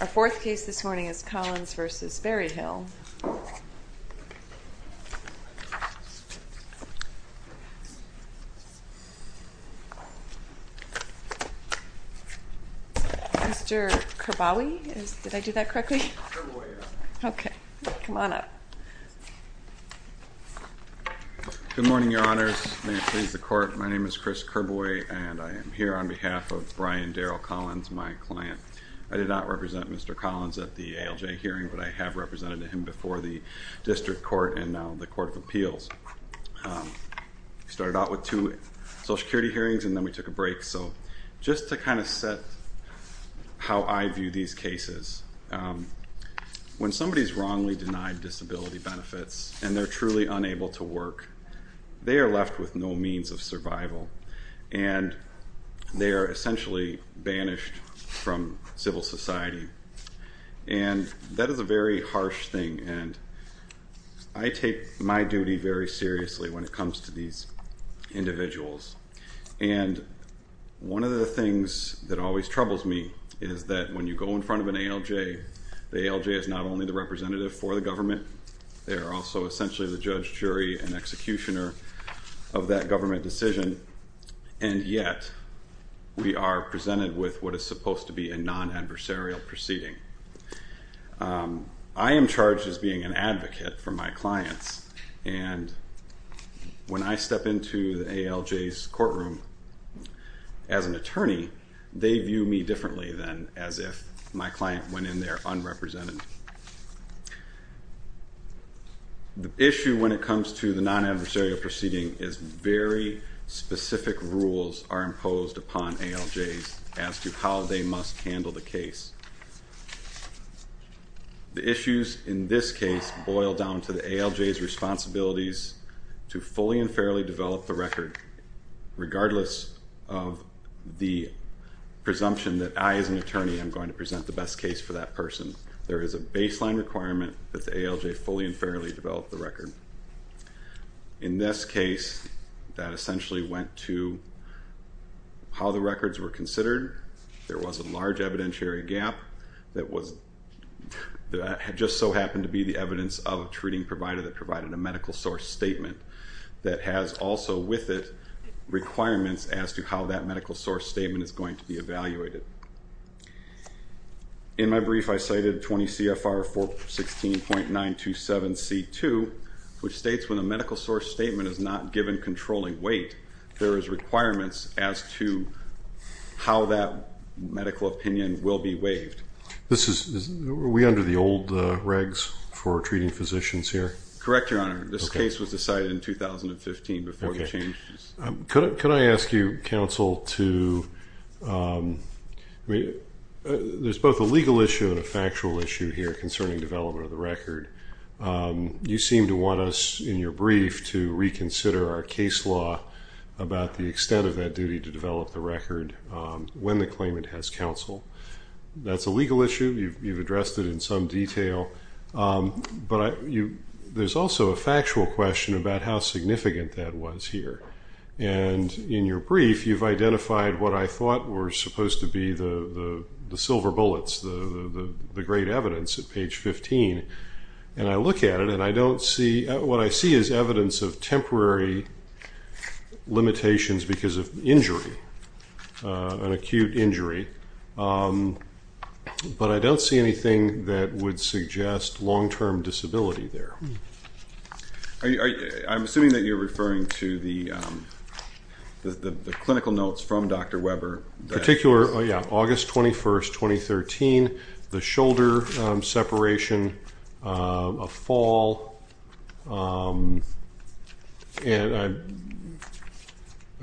Our fourth case this morning is Collins v. Berryhill. Mr. Kerbawi, did I do that correctly? Okay, come on up. Good morning, Your Honors. May it please the Court, my name is Chris Kerbawi and I am here on behalf of Brian Darrell Collins, my client. I did not represent Mr. Collins at the ALJ hearing, but I have represented him before the District Court and now the Court of Appeals. We started out with two Social Security hearings and then we took a break, so just to kind of set how I view these cases. When somebody is wrongly denied disability benefits and they are truly unable to work, they are left with no means of survival. And they are essentially banished from civil society. And that is a very harsh thing, and I take my duty very seriously when it comes to these individuals. And one of the things that always troubles me is that when you go in front of an ALJ, the ALJ is not only the representative for the government, they are also essentially the judge, jury, and executioner of that government decision. And yet, we are presented with what is supposed to be a non-adversarial proceeding. I am charged as being an advocate for my clients, and when I step into the ALJ's courtroom as an attorney, they view me differently than as if my client went in there unrepresented. The issue when it comes to the non-adversarial proceeding is very specific rules are imposed upon ALJs as to how they must handle the case. The issues in this case boil down to the ALJ's responsibilities to fully and fairly develop the record, regardless of the presumption that I, as an attorney, am going to present the best case for that person. There is a baseline requirement that the ALJ fully and fairly develop the record. In this case, that essentially went to how the records were considered. There was a large evidentiary gap that just so happened to be the evidence of a treating provider that provided a medical source statement that has also with it requirements as to how that medical source statement is going to be evaluated. In my brief, I cited 20 CFR 416.927C2, which states when a medical source statement is not given controlling weight, there is requirements as to how that medical opinion will be waived. Are we under the old regs for treating physicians here? Correct, Your Honor. This case was decided in 2015 before we changed this. Could I ask you, counsel, to – there's both a legal issue and a factual issue here concerning development of the record. You seem to want us, in your brief, to reconsider our case law about the extent of that duty to develop the record when the claimant has counsel. That's a legal issue. You've addressed it in some detail. But there's also a factual question about how significant that was here. And in your brief, you've identified what I thought were supposed to be the silver bullets, the great evidence at page 15. And I look at it, and I don't see – what I see is evidence of temporary limitations because of injury, an acute injury. But I don't see anything that would suggest long-term disability there. I'm assuming that you're referring to the clinical notes from Dr. Weber. Particular – yeah, August 21st, 2013, the shoulder separation, a fall. And I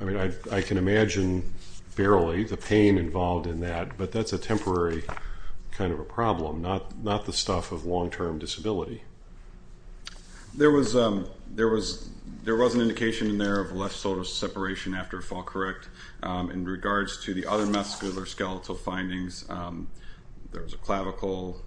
mean, I can imagine, barely, the pain involved in that. But that's a temporary kind of a problem, not the stuff of long-term disability. There was an indication in there of left shoulder separation after a fall correct. In regards to the other muscular skeletal findings, there was a clavicle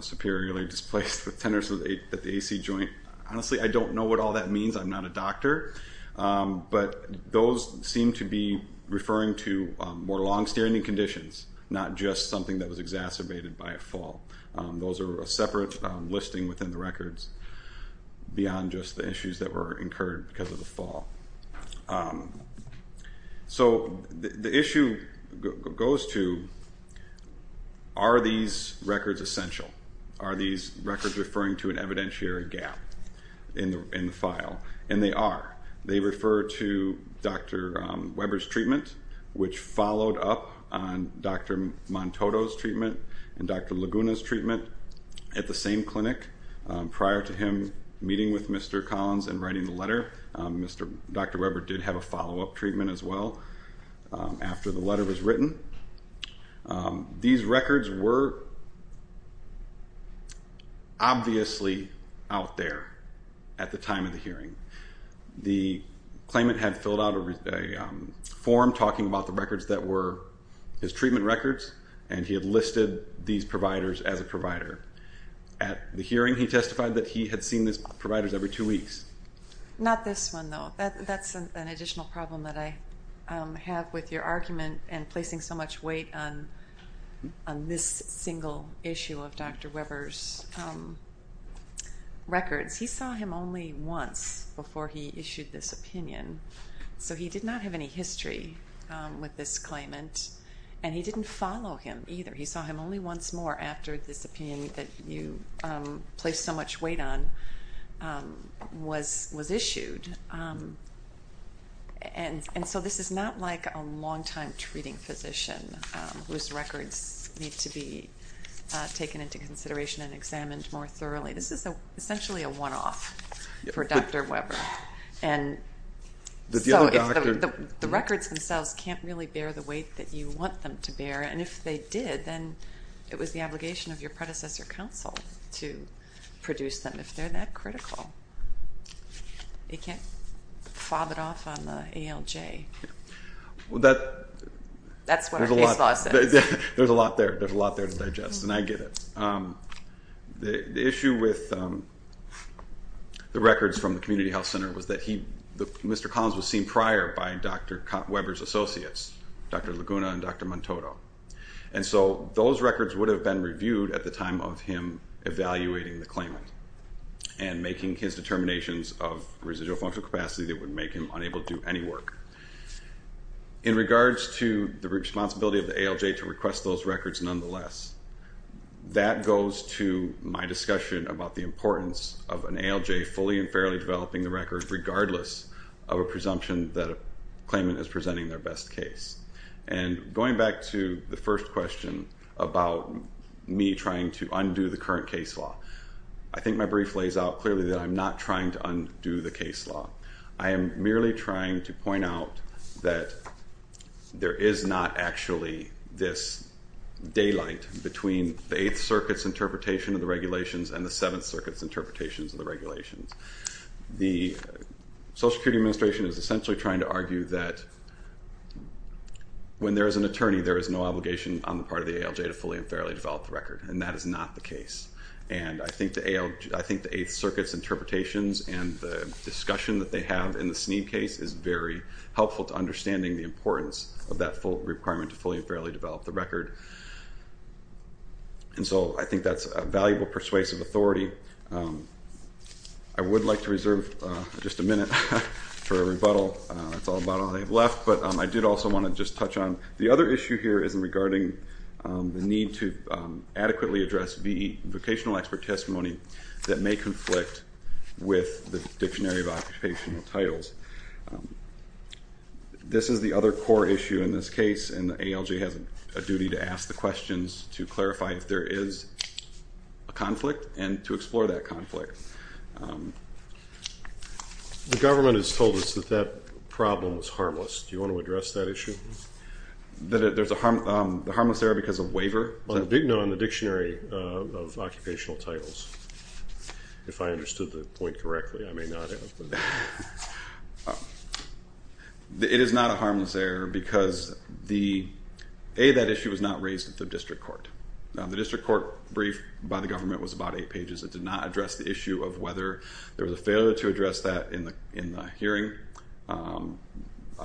superiorly displaced with tenderness at the AC joint. Honestly, I don't know what all that means. I'm not a doctor. But those seem to be referring to more long-standing conditions, not just something that was exacerbated by a fall. Those are a separate listing within the records beyond just the issues that were incurred because of the fall. So the issue goes to, are these records essential? Are these records referring to an evidentiary gap in the file? And they are. They refer to Dr. Weber's treatment, which followed up on Dr. Montoto's treatment and Dr. Laguna's treatment at the same clinic. Prior to him meeting with Mr. Collins and writing the letter, Dr. Weber did have a follow-up treatment as well after the letter was written. These records were obviously out there at the time of the hearing. The claimant had filled out a form talking about the records that were his treatment records, and he had listed these providers as a provider. At the hearing, he testified that he had seen these providers every two weeks. Not this one, though. That's an additional problem that I have with your argument and placing so much weight on this single issue of Dr. Weber's records. He saw him only once before he issued this opinion, so he did not have any history with this claimant, and he didn't follow him either. He saw him only once more after this opinion that you placed so much weight on was issued. And so this is not like a long-time treating physician whose records need to be taken into consideration and examined more thoroughly. This is essentially a one-off for Dr. Weber. The records themselves can't really bear the weight that you want them to bear, and if they did, then it was the obligation of your predecessor counsel to produce them if they're that critical. You can't fob it off on the ALJ. That's what our case law says. There's a lot there. There's a lot there to digest, and I get it. The issue with the records from the Community Health Center was that Mr. Collins was seen prior by Dr. Weber's associates, Dr. Laguna and Dr. Montoto. And so those records would have been reviewed at the time of him evaluating the claimant and making his determinations of residual functional capacity that would make him unable to do any work. In regards to the responsibility of the ALJ to request those records nonetheless, that goes to my discussion about the importance of an ALJ fully and fairly developing the records regardless of a presumption that a claimant is presenting their best case. And going back to the first question about me trying to undo the current case law, I think my brief lays out clearly that I'm not trying to undo the case law. I am merely trying to point out that there is not actually this daylight between the Eighth Circuit's interpretation of the regulations and the Seventh Circuit's interpretations of the regulations. The Social Security Administration is essentially trying to argue that when there is an attorney, there is no obligation on the part of the ALJ to fully and fairly develop the record, and that is not the case. And I think the Eighth Circuit's interpretations and the discussion that they have in the Sneed case is very helpful to understanding the importance of that requirement to fully and fairly develop the record. And so I think that's a valuable persuasive authority. I would like to reserve just a minute for a rebuttal. That's all about all I have left. But I did also want to just touch on the other issue here is regarding the need to adequately address the vocational expert testimony that may conflict with the Dictionary of Occupational Titles. This is the other core issue in this case, and the ALJ has a duty to ask the questions to clarify if there is a conflict and to explore that conflict. The government has told us that that problem is harmless. Do you want to address that issue? That there's a harmless error because of waiver? Well, it didn't go in the Dictionary of Occupational Titles, if I understood the point correctly. I may not have. It is not a harmless error because, A, that issue was not raised at the district court. The district court brief by the government was about eight pages. It did not address the issue of whether there was a failure to address that in the hearing on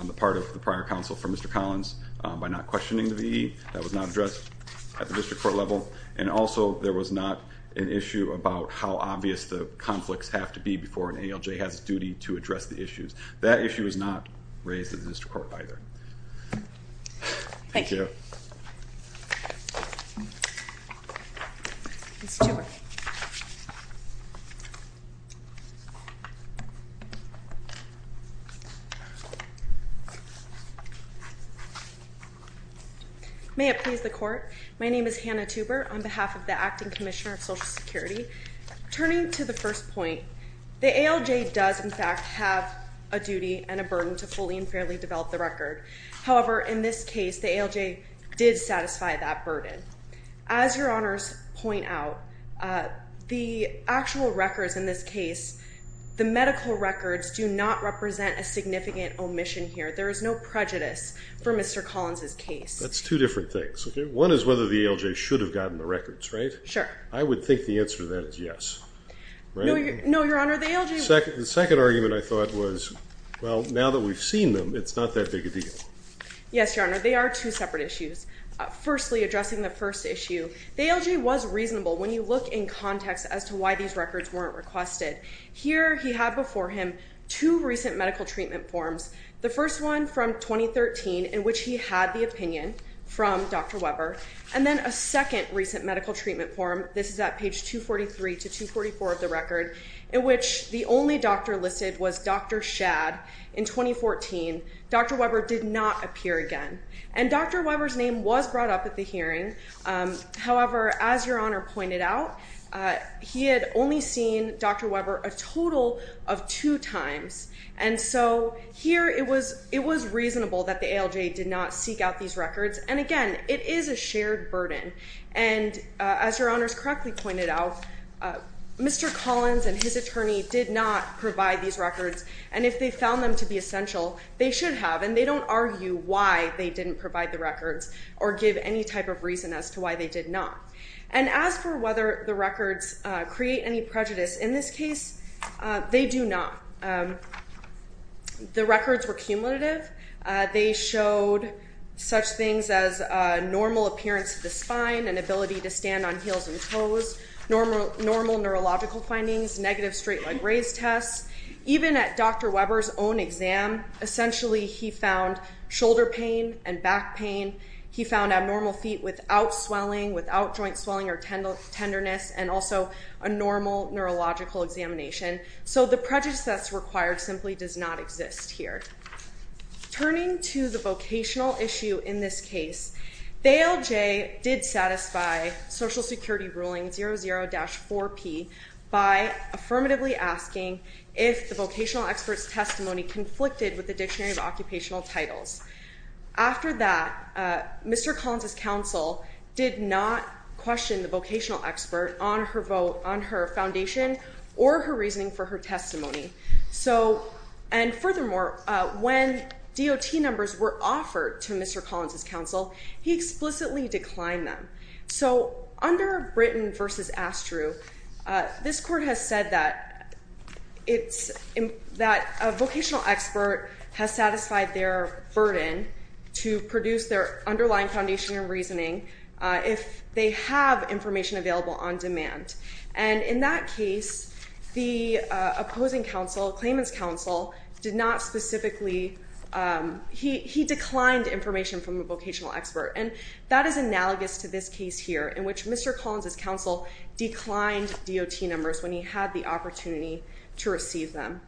the part of the prior counsel for Mr. Collins by not questioning the VE. That was not addressed at the district court level. And also, there was not an issue about how obvious the conflicts have to be before an ALJ has a duty to address the issues. That issue was not raised at the district court either. Thank you. Ms. Tuber. May it please the Court. My name is Hannah Tuber on behalf of the Acting Commissioner of Social Security. Turning to the first point, the ALJ does, in fact, have a duty and a burden to fully and fairly develop the record. However, in this case, the ALJ did satisfy that burden. As Your Honors point out, the actual records in this case, the medical records, do not represent a significant omission here. There is no prejudice for Mr. Collins' case. That's two different things. One is whether the ALJ should have gotten the records, right? Sure. I would think the answer to that is yes. No, Your Honor, the ALJ… The second argument I thought was, well, now that we've seen them, it's not that big a deal. Yes, Your Honor. They are two separate issues. Firstly, addressing the first issue, the ALJ was reasonable when you look in context as to why these records weren't requested. Here, he had before him two recent medical treatment forms, the first one from 2013 in which he had the opinion from Dr. Weber, and then a second recent medical treatment form. This is at page 243 to 244 of the record, in which the only doctor listed was Dr. Shad. In 2014, Dr. Weber did not appear again. And Dr. Weber's name was brought up at the hearing. However, as Your Honor pointed out, he had only seen Dr. Weber a total of two times. And so here, it was reasonable that the ALJ did not seek out these records. And again, it is a shared burden. And as Your Honor has correctly pointed out, Mr. Collins and his attorney did not provide these records. And if they found them to be essential, they should have. And they don't argue why they didn't provide the records or give any type of reason as to why they did not. And as for whether the records create any prejudice in this case, they do not. The records were cumulative. They showed such things as normal appearance of the spine and ability to stand on heels and toes, normal neurological findings, negative straight leg raise tests. Even at Dr. Weber's own exam, essentially he found shoulder pain and back pain. He found abnormal feet without swelling, without joint swelling or tenderness, and also a normal neurological examination. So the prejudice that's required simply does not exist here. Turning to the vocational issue in this case, the ALJ did satisfy Social Security Ruling 00-4P by affirmatively asking if the vocational expert's testimony conflicted with the Dictionary of Occupational Titles. After that, Mr. Collins' counsel did not question the vocational expert on her vote, on her foundation, or her reasoning for her testimony. And furthermore, when DOT numbers were offered to Mr. Collins' counsel, he explicitly declined them. So under Britton v. Astrew, this Court has said that a vocational expert has satisfied their burden to produce their underlying foundation and reasoning if they have information available on demand. And in that case, the opposing counsel, Clayman's counsel, did not specifically... He declined information from a vocational expert. And that is analogous to this case here, in which Mr. Collins' counsel declined DOT numbers when he had the opportunity to receive them.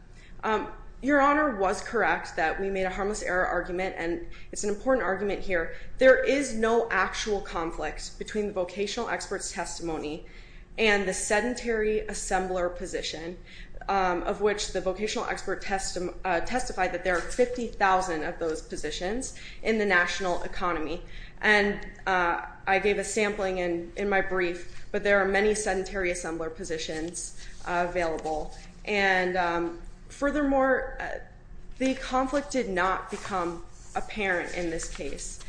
Your Honor was correct that we made a harmless error argument, and it's an important argument here. There is no actual conflict between the vocational expert's testimony and the sedentary assembler position, of which the vocational expert testified that there are 50,000 of those positions in the national economy. And I gave a sampling in my brief, but there are many sedentary assembler positions available. And furthermore, the conflict did not become apparent in this case.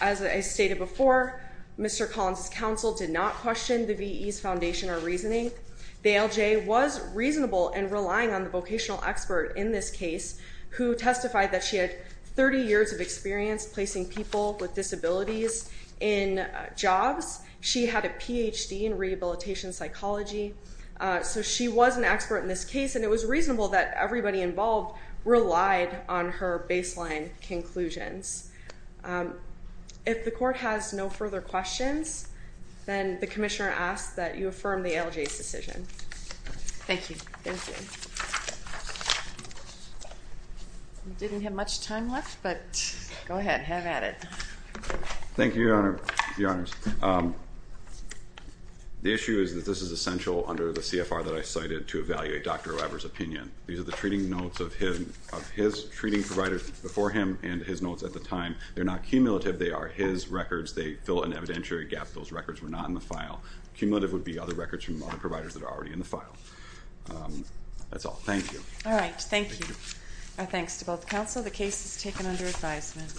As I stated before, Mr. Collins' counsel did not question the V.E.'s foundation or reasoning. The ALJ was reasonable in relying on the vocational expert in this case, who testified that she had 30 years of experience placing people with disabilities in jobs. She had a Ph.D. in rehabilitation psychology. So she was an expert in this case, and it was reasonable that everybody involved relied on her baseline conclusions. If the Court has no further questions, then the Commissioner asks that you affirm the ALJ's decision. Thank you. We didn't have much time left, but go ahead, have at it. Thank you, Your Honor. The issue is that this is essential under the CFR that I cited to evaluate Dr. Weber's opinion. These are the treating notes of his treating providers before him and his notes at the time. They're not cumulative. They are his records. They fill an evidentiary gap. Those records were not in the file. Cumulative would be other records from other providers that are already in the file. That's all. Thank you. All right, thank you. Our thanks to both counsel. The case is taken under advisement.